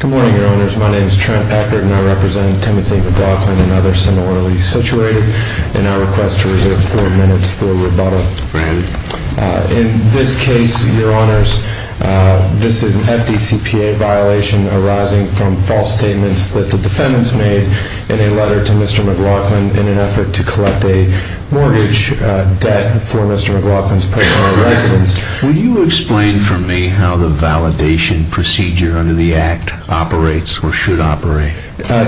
Good morning, Your Honors. My name is Trent Eckert, and I represent Timothy McLaughlin and others similarly situated. And I request to reserve four minutes for rebuttal. In this case, Your Honors, this is an FDCPA violation arising from false statements that the defendants made in a letter to Mr. McLaughlin in an effort to collect a mortgage debt for Mr. McLaughlin's personal residence. Will you explain for me how the validation procedure under the Act operates or should operate?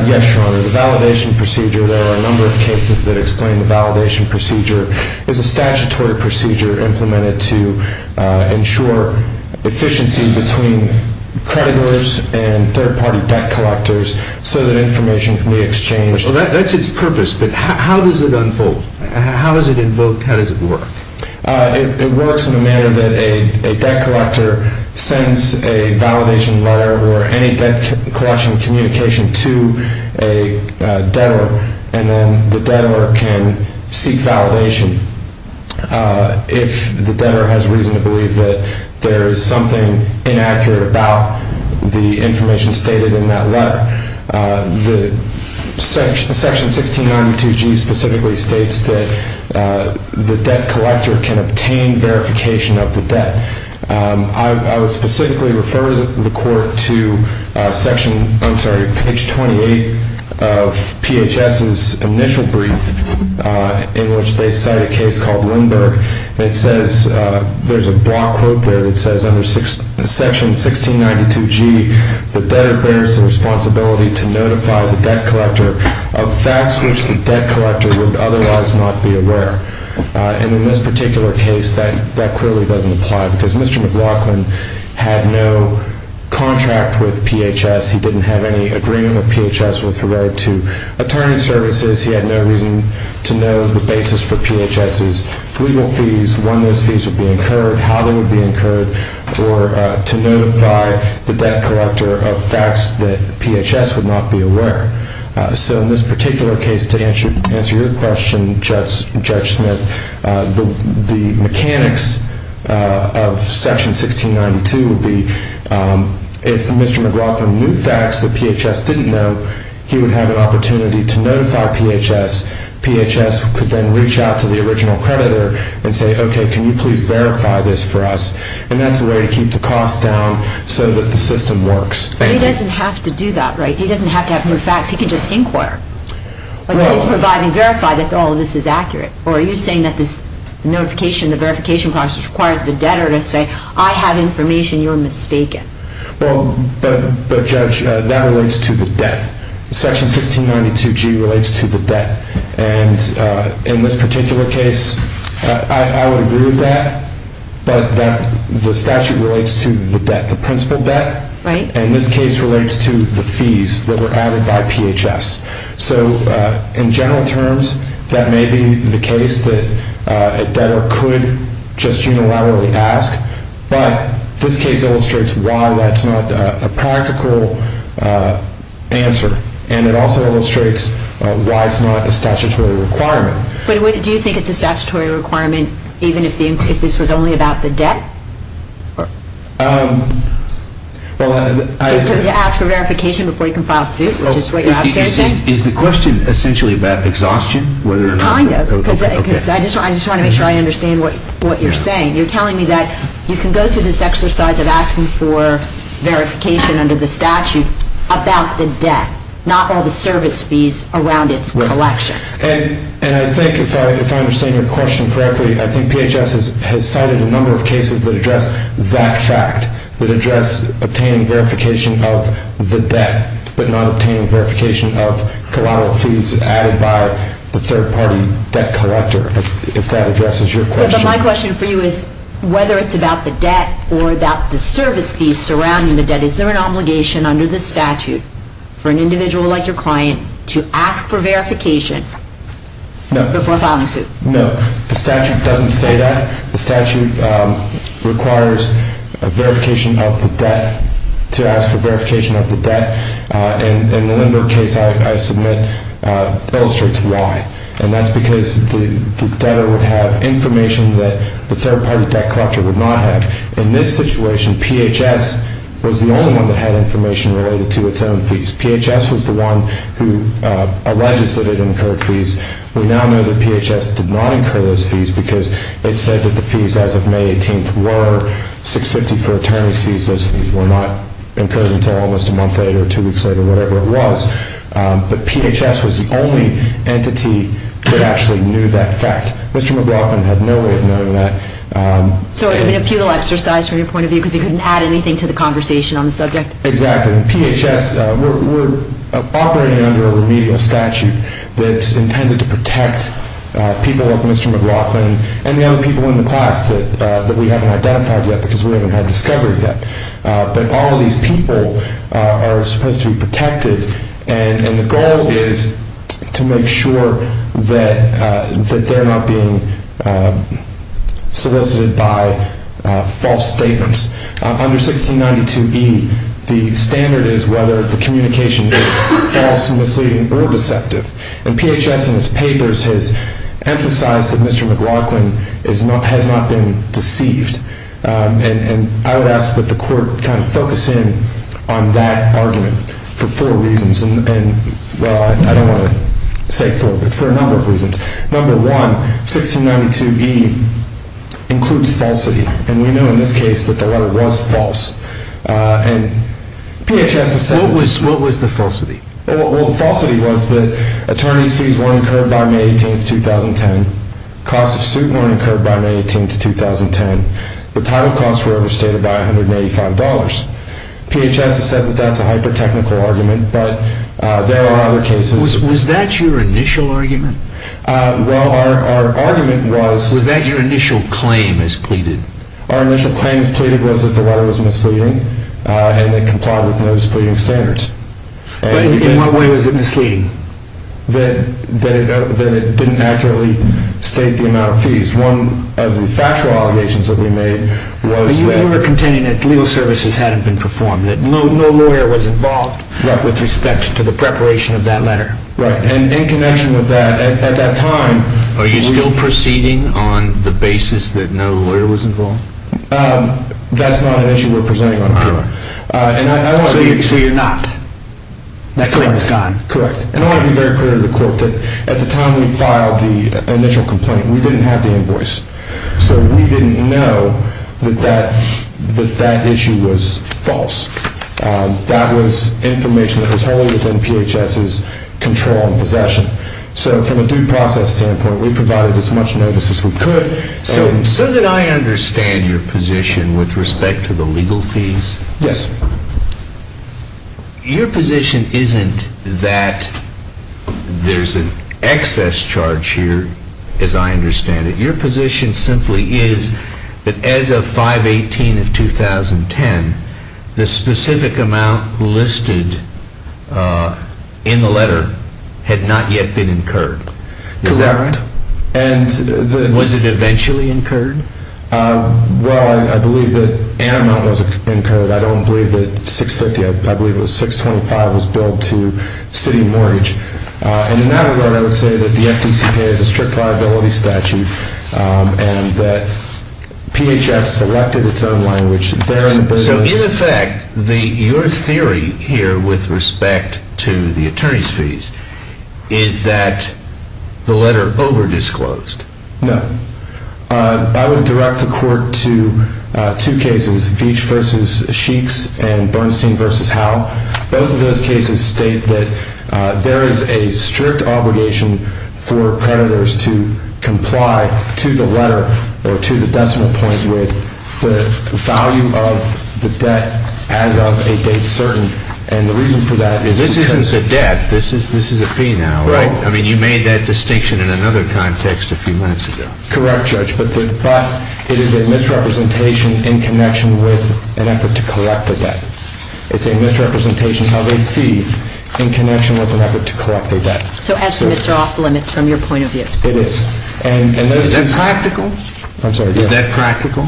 Yes, Your Honor. The validation procedure, there are a number of cases that explain the validation procedure. It's a statutory procedure implemented to ensure efficiency between creditors and third-party debt collectors so that information can be exchanged. That's its purpose, but how does it unfold? How does it invoke? How does it work? It works in the manner that a debt collector sends a validation letter or any debt collection communication to a debtor, and then the debtor can seek validation if the debtor has reason to believe that there is something inaccurate about the information stated in that letter. Section 1692G specifically states that the debt collector can obtain verification of the debt. I would specifically refer the Court to page 28 of PHS's initial brief in which they cite a case called Lindbergh. It says, there's a block quote there that says under Section 1692G, the debtor bears the responsibility to notify the debt collector of facts which the debt collector would otherwise not be aware. And in this particular case, that clearly doesn't apply because Mr. McLaughlin had no contract with PHS. He didn't have any agreement with PHS with regard to attorney services. He had no reason to know the basis for PHS's legal fees, when those fees would be incurred, how they would be incurred, or to notify the debt collector of facts that PHS would not be aware. So in this particular case, to answer your question, Judge Smith, the mechanics of Section 1692 would be if Mr. McLaughlin knew facts that PHS didn't know, he would have an opportunity to notify PHS. PHS could then reach out to the original creditor and say, okay, can you please verify this for us? And that's a way to keep the cost down so that the system works. But he doesn't have to do that, right? He doesn't have to have new facts. He can just inquire. Like, please provide and verify that all of this is accurate. Or are you saying that this notification, the verification process requires the debtor to say, I have information you're mistaken? Well, but, Judge, that relates to the debt. Section 1692G relates to the debt. And in this particular case, I would agree with that. But the statute relates to the debt, the principal debt. And this case relates to the fees that were added by PHS. So in general terms, that may be the case that a debtor could just unilaterally ask. But this case illustrates why that's not a practical answer. And it also illustrates why it's not a statutory requirement. But do you think it's a statutory requirement even if this was only about the debt? Well, I — To ask for verification before you can file suit, which is what you're outstanding? Is the question essentially about exhaustion? Kind of. Because I just want to make sure I understand what you're saying. You're telling me that you can go through this exercise of asking for verification under the statute about the debt, not all the service fees around its collection. And I think, if I understand your question correctly, I think PHS has cited a number of cases that address that fact, that address obtaining verification of the debt but not obtaining verification of collateral fees added by the third-party debt collector, if that addresses your question. But my question for you is, whether it's about the debt or about the service fees surrounding the debt, is there an obligation under the statute for an individual like your client to ask for verification before filing suit? No. The statute doesn't say that. The statute requires a verification of the debt to ask for verification of the debt. And the Lindbergh case I submit illustrates why. And that's because the debtor would have information that the third-party debt collector would not have. In this situation, PHS was the only one that had information related to its own fees. PHS was the one who alleges that it incurred fees. We now know that PHS did not incur those fees because it said that the fees as of May 18th were 650 for attorney's fees. Those fees were not incurred until almost a month later or two weeks later, whatever it was. But PHS was the only entity that actually knew that fact. Mr. McLaughlin had no way of knowing that. So it would have been a futile exercise from your point of view because he couldn't add anything to the conversation on the subject? Exactly. And PHS, we're operating under a remedial statute that's intended to protect people like Mr. McLaughlin and the other people in the class that we haven't identified yet because we haven't had discovery yet. But all of these people are supposed to be protected. And the goal is to make sure that they're not being solicited by false statements. Under 1692E, the standard is whether the communication is false and misleading or deceptive. And PHS in its papers has emphasized that Mr. McLaughlin has not been deceived. And I would ask that the court kind of focus in on that argument for four reasons. And, well, I don't want to say four, but for a number of reasons. Number one, 1692E includes falsity. And we know in this case that the letter was false. What was the falsity? Well, the falsity was that attorney's fees weren't incurred by May 18th, 2010. Cost of suit weren't incurred by May 18th, 2010. The title costs were overstated by $185. PHS has said that that's a hyper-technical argument, but there are other cases. Was that your initial argument? Well, our argument was... Was that your initial claim as pleaded? Our initial claim as pleaded was that the letter was misleading and it complied with those pleading standards. In what way was it misleading? That it didn't accurately state the amount of fees. One of the factual allegations that we made was that... You were contending that legal services hadn't been performed, that no lawyer was involved with respect to the preparation of that letter. Right. And in connection with that, at that time... Are you still proceeding on the basis that no lawyer was involved? That's not an issue we're presenting on here. All right. So you're not. That claim is gone. Correct. And I want to be very clear to the court that at the time we filed the initial complaint, we didn't have the invoice. So we didn't know that that issue was false. That was information that was wholly within PHS's control and possession. So from a due process standpoint, we provided as much notice as we could. So did I understand your position with respect to the legal fees? Yes. Your position isn't that there's an excess charge here, as I understand it. Your position simply is that as of 5-18 of 2010, the specific amount listed in the letter had not yet been incurred. Correct. Is that right? And... Was it eventually incurred? Well, I believe that an amount was incurred. I don't believe that $650, I believe it was $625 was billed to city mortgage. And in that regard, I would say that the FDCP has a strict liability statute and that PHS selected its own language. So in effect, your theory here with respect to the attorney's fees is that the letter overdisclosed? No. I would direct the Court to two cases, Veach v. Sheeks and Bernstein v. Howe. Both of those cases state that there is a strict obligation for creditors to comply to the letter or to the decimal point with the value of the debt as of a date certain. And the reason for that is because... This isn't the debt. This is a fee now. Right. I mean, you made that distinction in another context a few minutes ago. Correct, Judge. But it is a misrepresentation in connection with an effort to collect the debt. It's a misrepresentation of a fee in connection with an effort to collect the debt. So estimates are off limits from your point of view. It is. And... Is that practical? I'm sorry. Is that practical?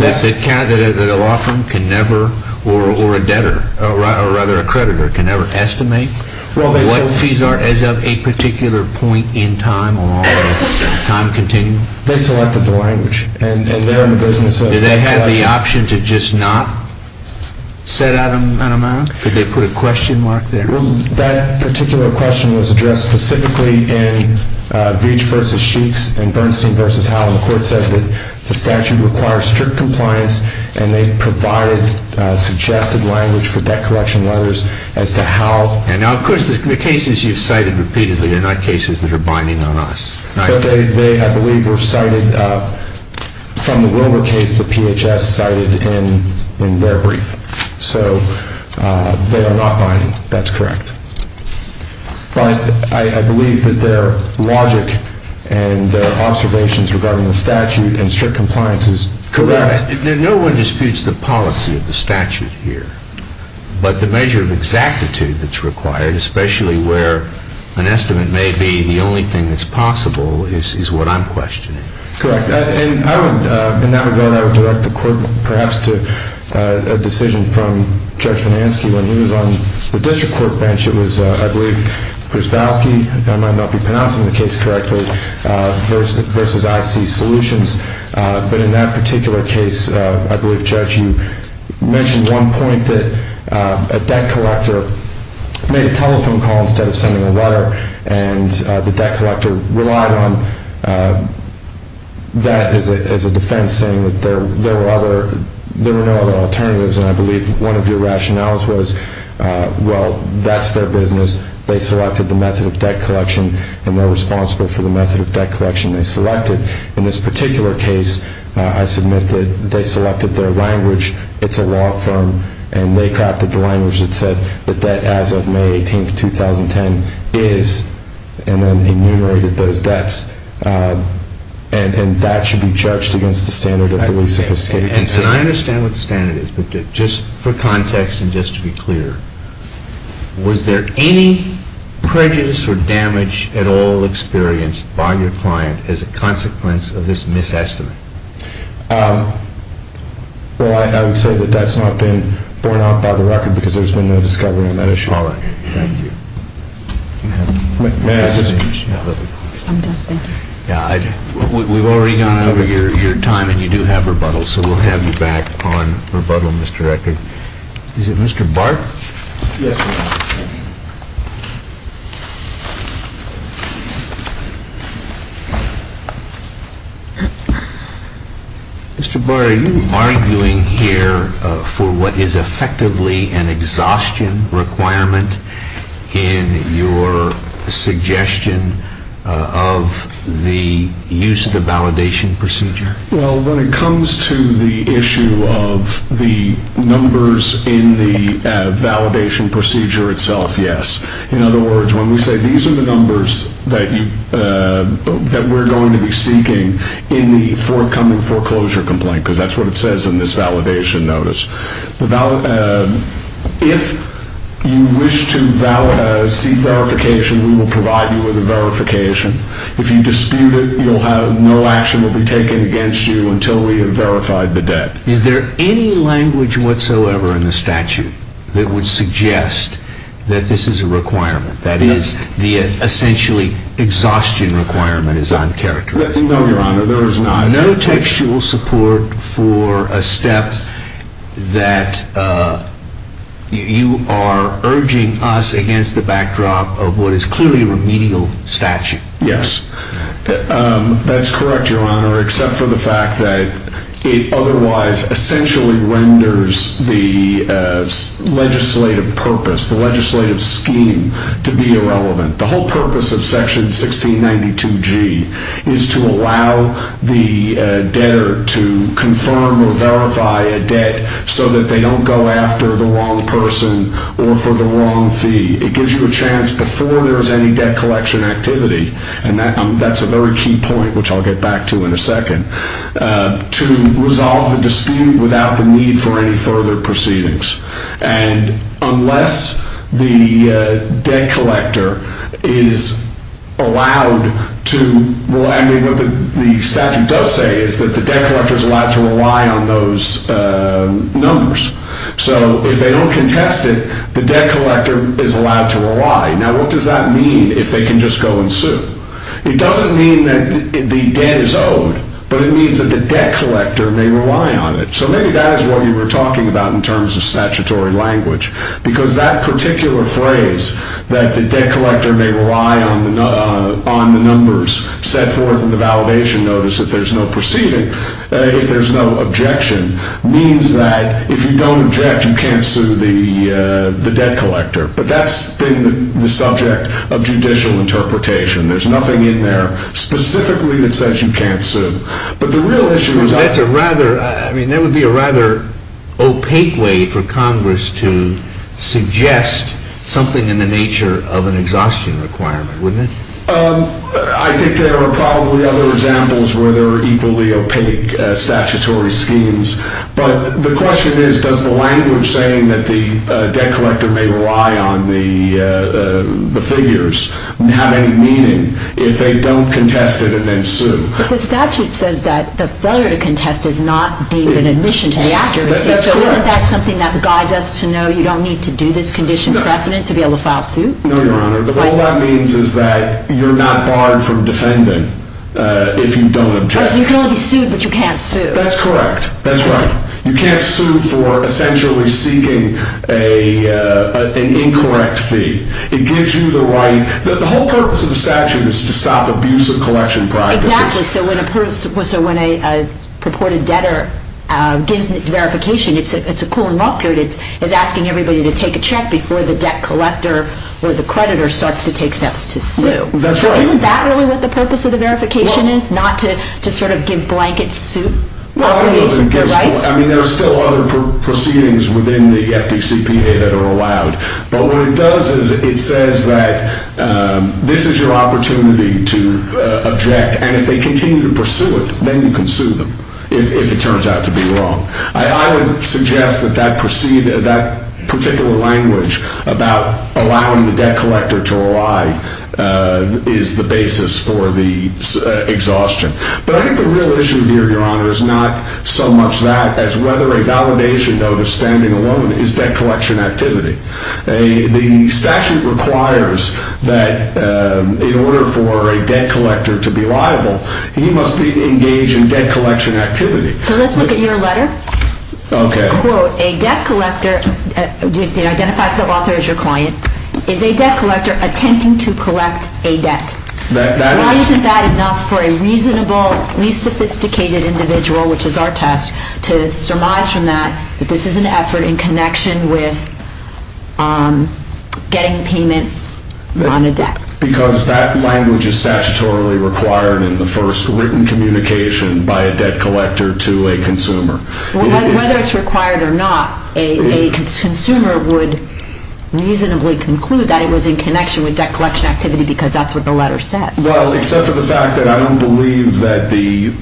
Yes. Does it count that a law firm can never, or a debtor, or rather a creditor, can never estimate what fees are as of a particular point in time or on a time continuum? They selected the language. And they're in the business of... Do they have the option to just not set out an amount? Could they put a question mark there? That particular question was addressed specifically in Veach v. Sheeks and Bernstein v. Howell. The Court said that the statute requires strict compliance, and they provided suggested language for debt collection letters as to how... And now, of course, the cases you've cited repeatedly are not cases that are binding on us. But they, I believe, were cited from the Wilbur case that PHS cited in their brief. So they are not binding. That's correct. But I believe that their logic and their observations regarding the statute and strict compliance is correct. No one disputes the policy of the statute here. But the measure of exactitude that's required, especially where an estimate may be the only thing that's possible, is what I'm questioning. Correct. In that regard, I would direct the Court, perhaps, to a decision from Judge Finansky when he was on the District Court bench. It was, I believe, Krzywowski, and I might not be pronouncing the case correctly, v. I.C. Solutions. But in that particular case, I believe, Judge, you mentioned one point that a debt collector made a telephone call instead of sending a letter. And the debt collector relied on that as a defense, saying that there were no other alternatives. And I believe one of your rationales was, well, that's their business. They selected the method of debt collection, and they're responsible for the method of debt collection they selected. In this particular case, I submit that they selected their language. It's a law firm, and they crafted the language that said that debt as of May 18th, 2010 is, and then enumerated those debts. And that should be judged against the standard of the least sophisticated consent. And I understand what the standard is, but just for context and just to be clear, was there any prejudice or damage at all experienced by your client as a consequence of this misestimate? Well, I would say that that's not been borne out by the record, because there's been no discovery on that issue. All right. Thank you. We've already gone over your time, and you do have rebuttal. So we'll have you back on rebuttal, Mr. Rector. Is it Mr. Bart? Yes, Your Honor. Mr. Bart, are you arguing here for what is effectively an exhaustion requirement in your suggestion of the use of the validation procedure? Well, when it comes to the issue of the numbers in the validation procedure itself, yes. In other words, when we say these are the numbers that we're going to be seeking in the forthcoming foreclosure complaint, because that's what it says in this validation notice, if you wish to seek verification, we will provide you with a verification. If you dispute it, no action will be taken against you until we have verified the debt. Is there any language whatsoever in the statute that would suggest that this is a requirement, that is, the essentially exhaustion requirement is uncharacterized? No, Your Honor, there is not. No textual support for a step that you are urging us against the backdrop of what is clearly a remedial statute? Yes, that's correct, Your Honor, except for the fact that it otherwise essentially renders the legislative purpose, the legislative scheme to be irrelevant. The whole purpose of Section 1692G is to allow the debtor to confirm or verify a debt so that they don't go after the wrong person or for the wrong fee. It gives you a chance before there is any debt collection activity, and that's a very key point, which I'll get back to in a second, to resolve the dispute without the need for any further proceedings. And unless the debt collector is allowed to, well, I mean, what the statute does say is that the debt collector is allowed to rely on those numbers. So if they don't contest it, the debt collector is allowed to rely. Now, what does that mean if they can just go and sue? It doesn't mean that the debt is owed, but it means that the debt collector may rely on it. So maybe that is what you were talking about in terms of statutory language, because that particular phrase, that the debt collector may rely on the numbers set forth in the validation notice if there's no proceeding, if there's no objection, means that if you don't object, you can't sue the debt collector. But that's been the subject of judicial interpretation. There's nothing in there specifically that says you can't sue. But the real issue is... That's a rather, I mean, that would be a rather opaque way for Congress to suggest something in the nature of an exhaustion requirement, wouldn't it? I think there are probably other examples where there are equally opaque statutory schemes. But the question is, does the language saying that the debt collector may rely on the figures have any meaning if they don't contest it and then sue? But the statute says that the failure to contest is not deemed an admission to the accuracy. So isn't that something that guides us to know you don't need to do this condition precedent to be able to file suit? No, Your Honor. All that means is that you're not barred from defending if you don't object. You can only sue, but you can't sue. That's correct. That's right. You can't sue for essentially seeking an incorrect fee. It gives you the right... The whole purpose of the statute is to stop abusive collection practices. Exactly. So when a purported debtor gives verification, it's a cool and rough period. It's asking everybody to take a check before the debt collector or the creditor starts to take steps to sue. That's right. So isn't that really what the purpose of the verification is, not to sort of give blanket suit obligations or rights? I mean, there are still other proceedings within the FDCPA that are allowed. But what it does is it says that this is your opportunity to object. And if they continue to pursue it, then you can sue them if it turns out to be wrong. I would suggest that that particular language about allowing the debt collector to rely is the basis for the exhaustion. But I think the real issue here, Your Honor, is not so much that as whether a validation notice standing alone is debt collection activity. The statute requires that in order for a debt collector to be liable, he must be engaged in debt collection activity. So let's look at your letter. Okay. Quote, a debt collector identifies the author as your client. Is a debt collector attempting to collect a debt? Why isn't that enough for a reasonable, least sophisticated individual, which is our test, to surmise from that that this is an effort in connection with getting payment on a debt? Because that language is statutorily required in the first written communication by a debt collector to a consumer. Whether it's required or not, a consumer would reasonably conclude that it was in connection with debt collection activity because that's what the letter says. Well, except for the fact that I don't believe that the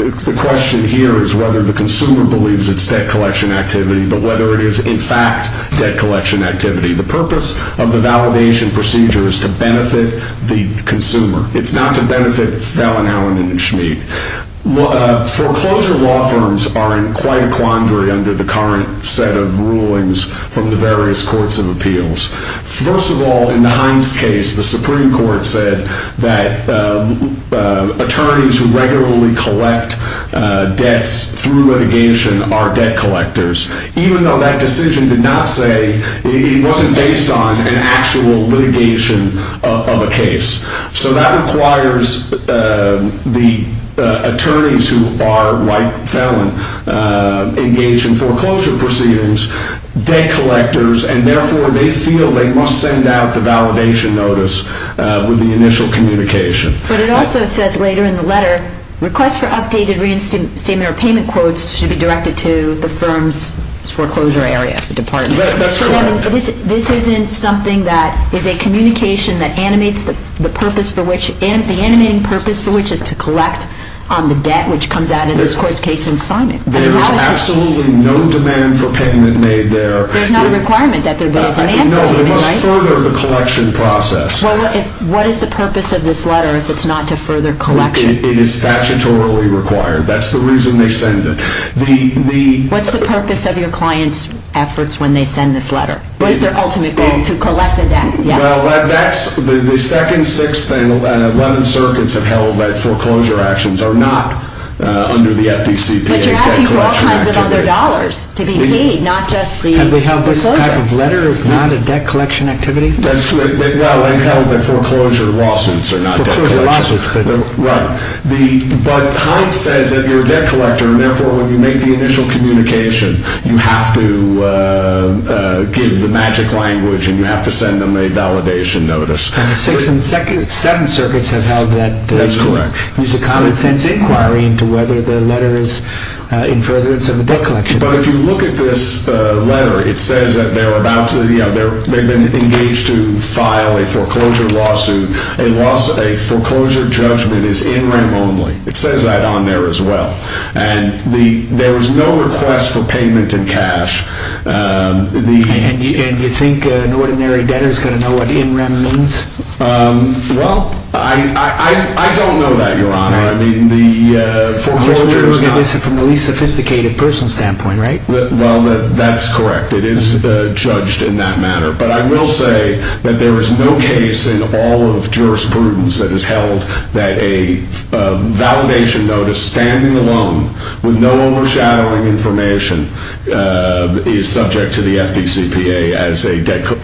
question here is whether the consumer believes it's debt collection activity, but whether it is, in fact, debt collection activity. The purpose of the validation procedure is to benefit the consumer. It's not to benefit Fallon, Allen, and Schmidt. Foreclosure law firms are in quite a quandary under the current set of rulings from the various courts of appeals. First of all, in the Hines case, the Supreme Court said that attorneys who regularly collect debts through litigation are debt collectors, even though that decision did not say it wasn't based on an actual litigation of a case. So that requires the attorneys who are, like Fallon, engaged in foreclosure proceedings, debt collectors, and therefore they feel they must send out the validation notice with the initial communication. But it also says later in the letter, requests for updated reinstatement or payment quotes should be directed to the firm's foreclosure area, the department. That's correct. This isn't something that is a communication that animates the purpose for which, the animating purpose for which is to collect on the debt which comes out in this court's case and sign it. There is absolutely no demand for payment made there. There's not a requirement that there be a demand for payment, right? No, they must further the collection process. Well, what is the purpose of this letter if it's not to further collection? It is statutorily required. That's the reason they send it. What's the purpose of your client's efforts when they send this letter? What is their ultimate goal? To collect the debt, yes. Well, that's the second, sixth, and eleventh circuits have held that foreclosure actions are not under the FDCPA. But you're asking for all kinds of other dollars to be paid, not just the… Have they held this type of letter as not a debt collection activity? That's correct. Well, they've held that foreclosure lawsuits are not debt collection. Foreclosure lawsuits, but… Right. But Heinz says that you're a debt collector and therefore when you make the initial communication, you have to give the magic language and you have to send them a validation notice. And the sixth and seventh circuits have held that… That's correct. There's a common sense inquiry into whether the letter is in furtherance of the debt collection. But if you look at this letter, it says that they've been engaged to file a foreclosure lawsuit. A foreclosure judgment is in rem only. It says that on there as well. And there is no request for payment in cash. And you think an ordinary debtor is going to know what in rem means? Well, I don't know that, Your Honor. I mean, the foreclosure is not… So you're looking at this from the least sophisticated personal standpoint, right? Well, that's correct. It is judged in that matter. But I will say that there is no case in all of jurisprudence that has held that a validation notice standing alone with no overshadowing information is subject to the FDCPA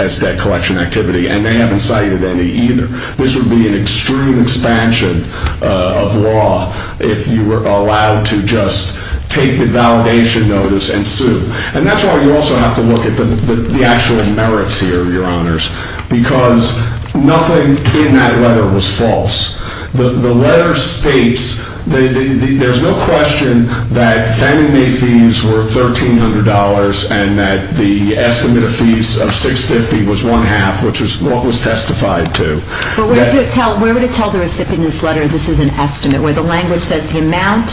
as debt collection activity. And they haven't cited any either. This would be an extreme expansion of law if you were allowed to just take the validation notice and sue. And that's why you also have to look at the actual merits here, Your Honors, because nothing in that letter was false. The letter states that there's no question that Fannie Mae fees were $1,300 and that the estimate of fees of $650 was one-half, which is what was testified to. But where would it tell the recipient in this letter this is an estimate, where the language says the amount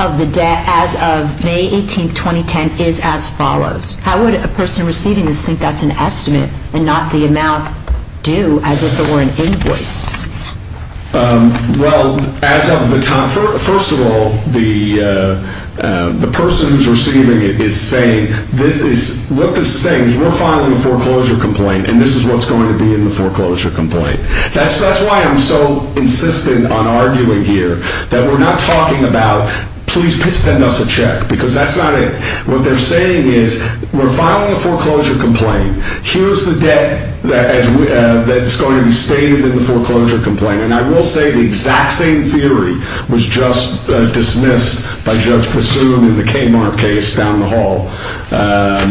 of the debt as of May 18, 2010, is as follows? How would a person receiving this think that's an estimate and not the amount due as if it were an invoice? Well, first of all, the person who's receiving it is saying, what this is saying is we're filing a foreclosure complaint and this is what's going to be in the foreclosure complaint. That's why I'm so insistent on arguing here that we're not talking about, please send us a check, because that's not it. What they're saying is we're filing a foreclosure complaint. Here's the debt that's going to be stated in the foreclosure complaint. And I will say the exact same theory was just dismissed by Judge Passoon in the Kmart case down the hall on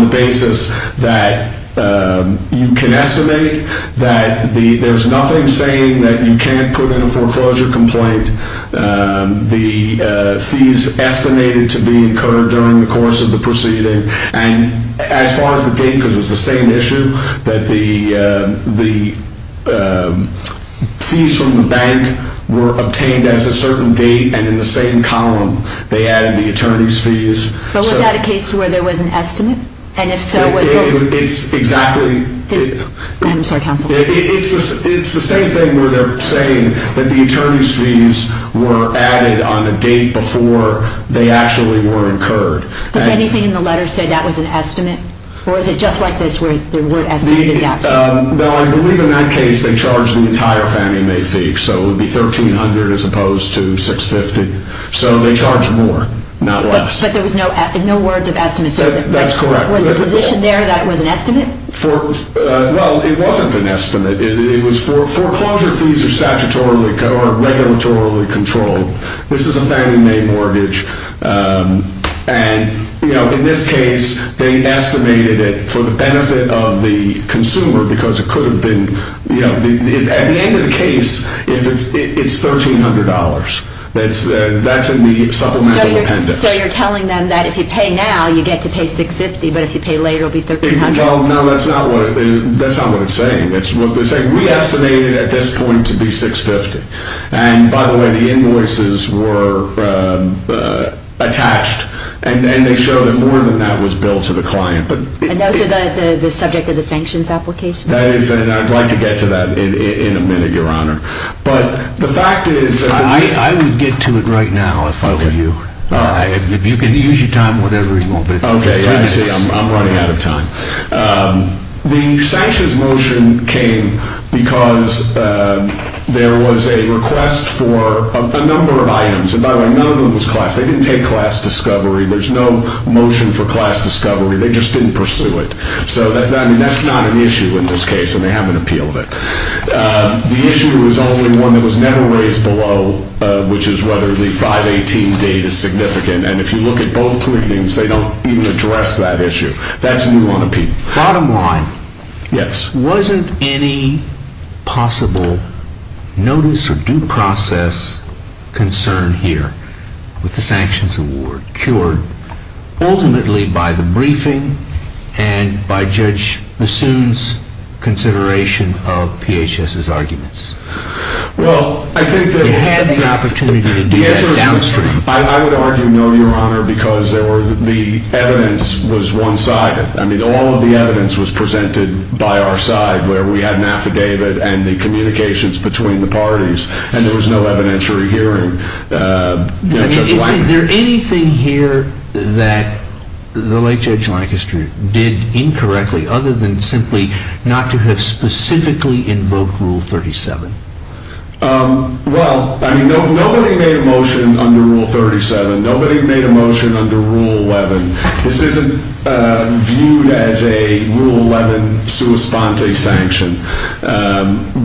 the basis that you can estimate that there's nothing saying that you can't put in a foreclosure complaint. The fees estimated to be incurred during the course of the proceeding. And as far as the date, because it's the same issue, that the fees from the bank were obtained as a certain date and in the same column they added the attorney's fees. But was that a case where there was an estimate? And if so, was the... It's exactly... I'm sorry, counsel. It's the same thing where they're saying that the attorney's fees were added on a date before they actually were incurred. Did anything in the letter say that was an estimate? Or is it just like this where the word estimate is absent? No, I believe in that case they charged the entire Fannie Mae fee, so it would be $1,300 as opposed to $650. So they charged more, not less. But there was no words of estimate? That's correct. Was the position there that it was an estimate? Well, it wasn't an estimate. Foreclosure fees are statutorily or regulatorily controlled. This is a Fannie Mae mortgage, and in this case they estimated it for the benefit of the consumer because it could have been... At the end of the case, it's $1,300. That's in the supplemental appendix. So you're telling them that if you pay now, you get to pay $650, but if you pay later, it'll be $1,300? No, that's not what it's saying. We estimated at this point to be $650. And by the way, the invoices were attached, and they show that more than that was billed to the client. And those are the subject of the sanctions application? That is, and I'd like to get to that in a minute, Your Honor. But the fact is... I would get to it right now if I were you. All right. You can use your time whenever you want. Okay, I see. I'm running out of time. The sanctions motion came because there was a request for a number of items. And by the way, none of them was class. They didn't take class discovery. There's no motion for class discovery. They just didn't pursue it. So that's not an issue in this case, and they haven't appealed it. The issue is only one that was never raised below, which is whether the 518 date is significant. And if you look at both pleadings, they don't even address that issue. That's new on appeal. Bottom line. Yes. Wasn't any possible notice or due process concern here with the sanctions award cured ultimately by the briefing and by Judge Bassoon's consideration of PHS's arguments? Well, I think that... They had the opportunity to do that downstream. I would argue no, Your Honor, because the evidence was one-sided. I mean, all of the evidence was presented by our side, where we had an affidavit and the communications between the parties, and there was no evidentiary hearing. Is there anything here that the late Judge Lancaster did incorrectly other than simply not to have specifically invoked Rule 37? Well, I mean, nobody made a motion under Rule 37. Nobody made a motion under Rule 11. This isn't viewed as a Rule 11 sua sponte sanction.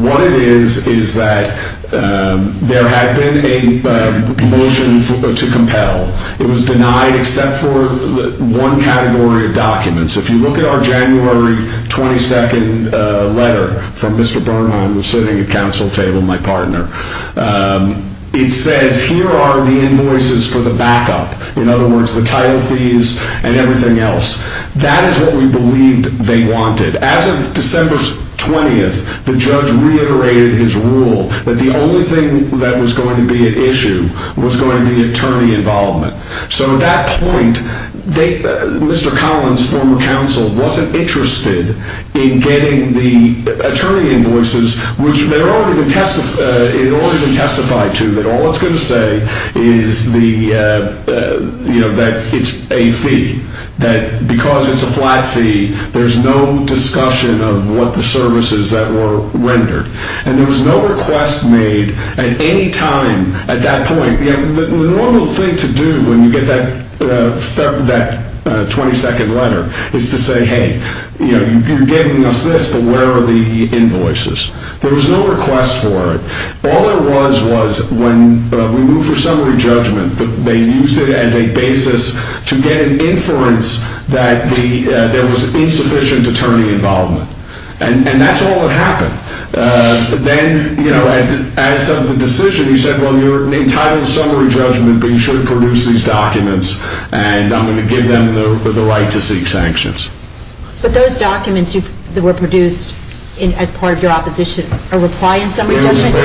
What it is is that there had been a motion to compel. If you look at our January 22 letter from Mr. Bernholm sitting at council table, my partner, it says here are the invoices for the backup. In other words, the title fees and everything else. That is what we believed they wanted. As of December 20th, the judge reiterated his rule that the only thing that was going to be at issue was going to be attorney involvement. So at that point, Mr. Collins, former counsel, wasn't interested in getting the attorney invoices, which it had already been testified to that all it's going to say is that it's a fee. That because it's a flat fee, there's no discussion of what the services that were rendered. And there was no request made at any time at that point. The normal thing to do when you get that 22nd letter is to say, hey, you're giving us this, but where are the invoices? There was no request for it. All there was was when we moved for summary judgment, they used it as a basis to get an inference that there was insufficient attorney involvement. And that's all that happened. Then as of the decision, he said, well, you're entitled to summary judgment, but you shouldn't produce these documents, and I'm going to give them the right to seek sanctions. But those documents that were produced as part of your opposition, a reply in summary judgment?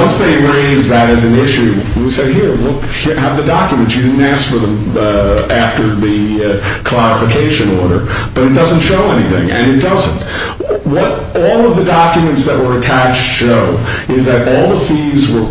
Once they raised that as an issue, we said, here, have the documents. You didn't ask for them after the clarification order, but it doesn't show anything, and it doesn't. What all of the documents that were attached show is that all the fees were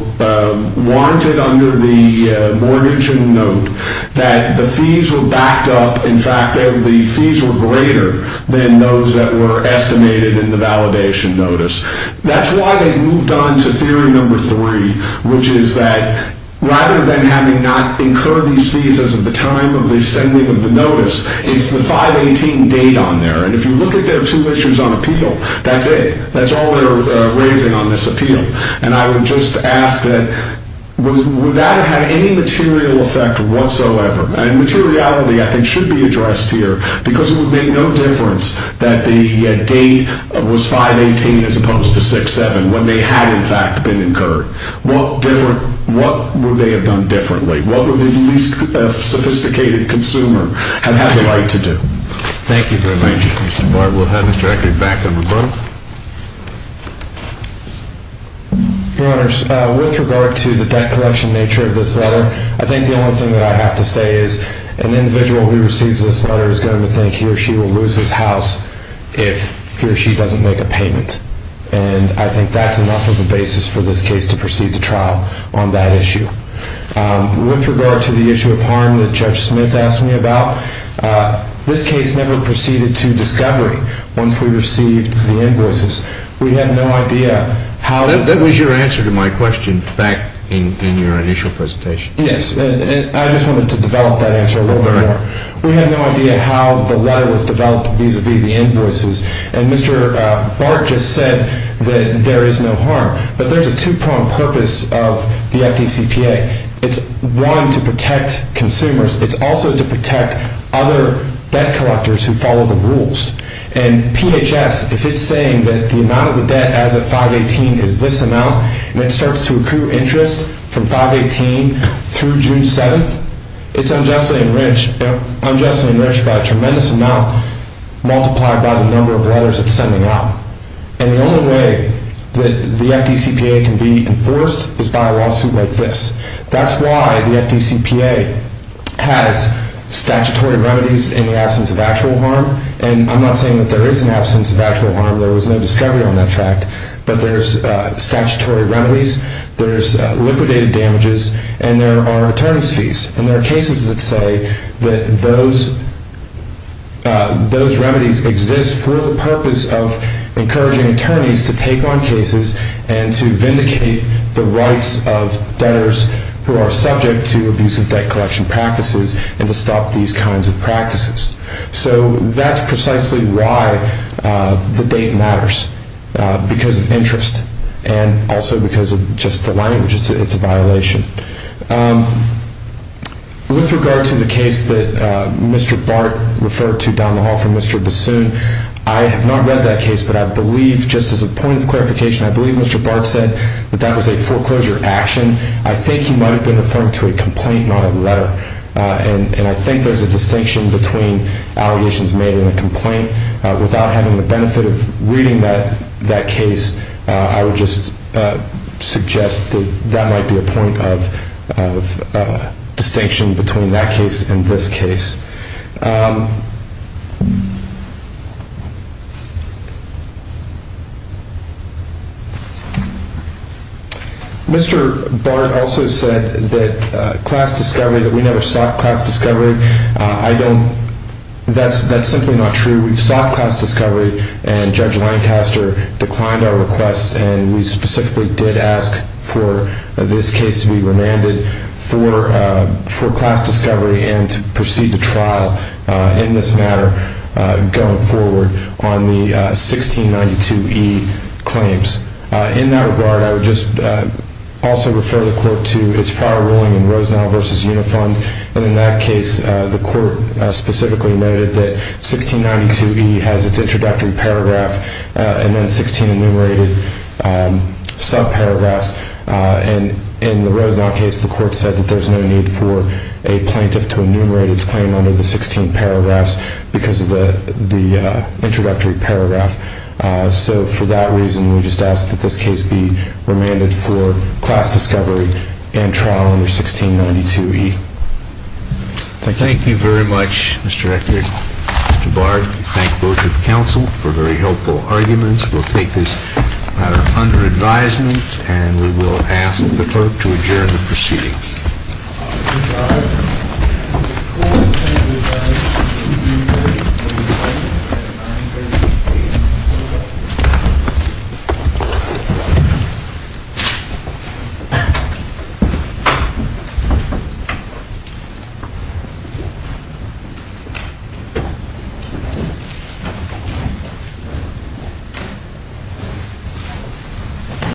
warranted under the mortgage and note, that the fees were backed up. In fact, the fees were greater than those that were estimated in the validation notice. That's why they moved on to theory number three, which is that rather than having not incurred these fees as of the time of the sending of the notice, it's the 518 date on there. And if you look at their two issues on appeal, that's it. That's all they're raising on this appeal. And I would just ask that would that have had any material effect whatsoever? And materiality, I think, should be addressed here, because it would make no difference that the date was 518 as opposed to 6-7 when they had, in fact, been incurred. What would they have done differently? What would the least sophisticated consumer have had the right to do? Thank you very much. Thank you, Mr. Bartlett. We'll have Mr. Eckert back in a moment. Your Honors, with regard to the debt collection nature of this letter, I think the only thing that I have to say is an individual who receives this letter is going to think he or she will lose his house if he or she doesn't make a payment. And I think that's enough of a basis for this case to proceed to trial on that issue. With regard to the issue of harm that Judge Smith asked me about, this case never proceeded to discovery once we received the invoices. We have no idea how to That was your answer to my question back in your initial presentation. Yes, and I just wanted to develop that answer a little bit more. All right. We have no idea how the letter was developed vis-à-vis the invoices. And Mr. Bart just said that there is no harm. But there's a two-pronged purpose of the FDCPA. It's, one, to protect consumers. It's also to protect other debt collectors who follow the rules. And PHS, if it's saying that the amount of the debt as of 5-18 is this amount, and it starts to accrue interest from 5-18 through June 7, it's unjustly enriched by a tremendous amount multiplied by the number of letters it's sending out. And the only way that the FDCPA can be enforced is by a lawsuit like this. That's why the FDCPA has statutory remedies in the absence of actual harm. And I'm not saying that there is an absence of actual harm. There was no discovery on that fact. But there's statutory remedies, there's liquidated damages, and there are attorneys' fees. And there are cases that say that those remedies exist for the purpose of encouraging attorneys to take on cases and to vindicate the rights of debtors who are subject to abusive debt collection practices and to stop these kinds of practices. So that's precisely why the date matters, because of interest and also because of just the language. It's a violation. With regard to the case that Mr. Bart referred to down the hall from Mr. Bassoon, I have not read that case, but I believe, just as a point of clarification, I believe Mr. Bart said that that was a foreclosure action. I think he might have been referring to a complaint, not a letter. And I think there's a distinction between allegations made in a complaint. Without having the benefit of reading that case, I would just suggest that that might be a point of distinction between that case and this case. Mr. Bart also said that class discovery, that we never sought class discovery. That's simply not true. We sought class discovery, and Judge Lancaster declined our request, and we specifically did ask for this case to be remanded for class discovery and to proceed to trial in this matter going forward on the 1692E claims. In that regard, I would just also refer the Court to its prior ruling in Rosenau v. Unifund, and in that case, the Court specifically noted that 1692E has its introductory paragraph and then 16 enumerated subparagraphs, and in the Rosenau case, the Court said that there's no need for a plaintiff to enumerate its claim under the 16 paragraphs because of the introductory paragraph. So for that reason, we just ask that this case be remanded for class discovery and trial under 1692E. Thank you. Thank you very much, Mr. Rector. Mr. Bart, we thank both your counsel for very helpful arguments. We'll take this matter under advisement, and we will ask the Clerk to adjourn the proceedings. Thank you.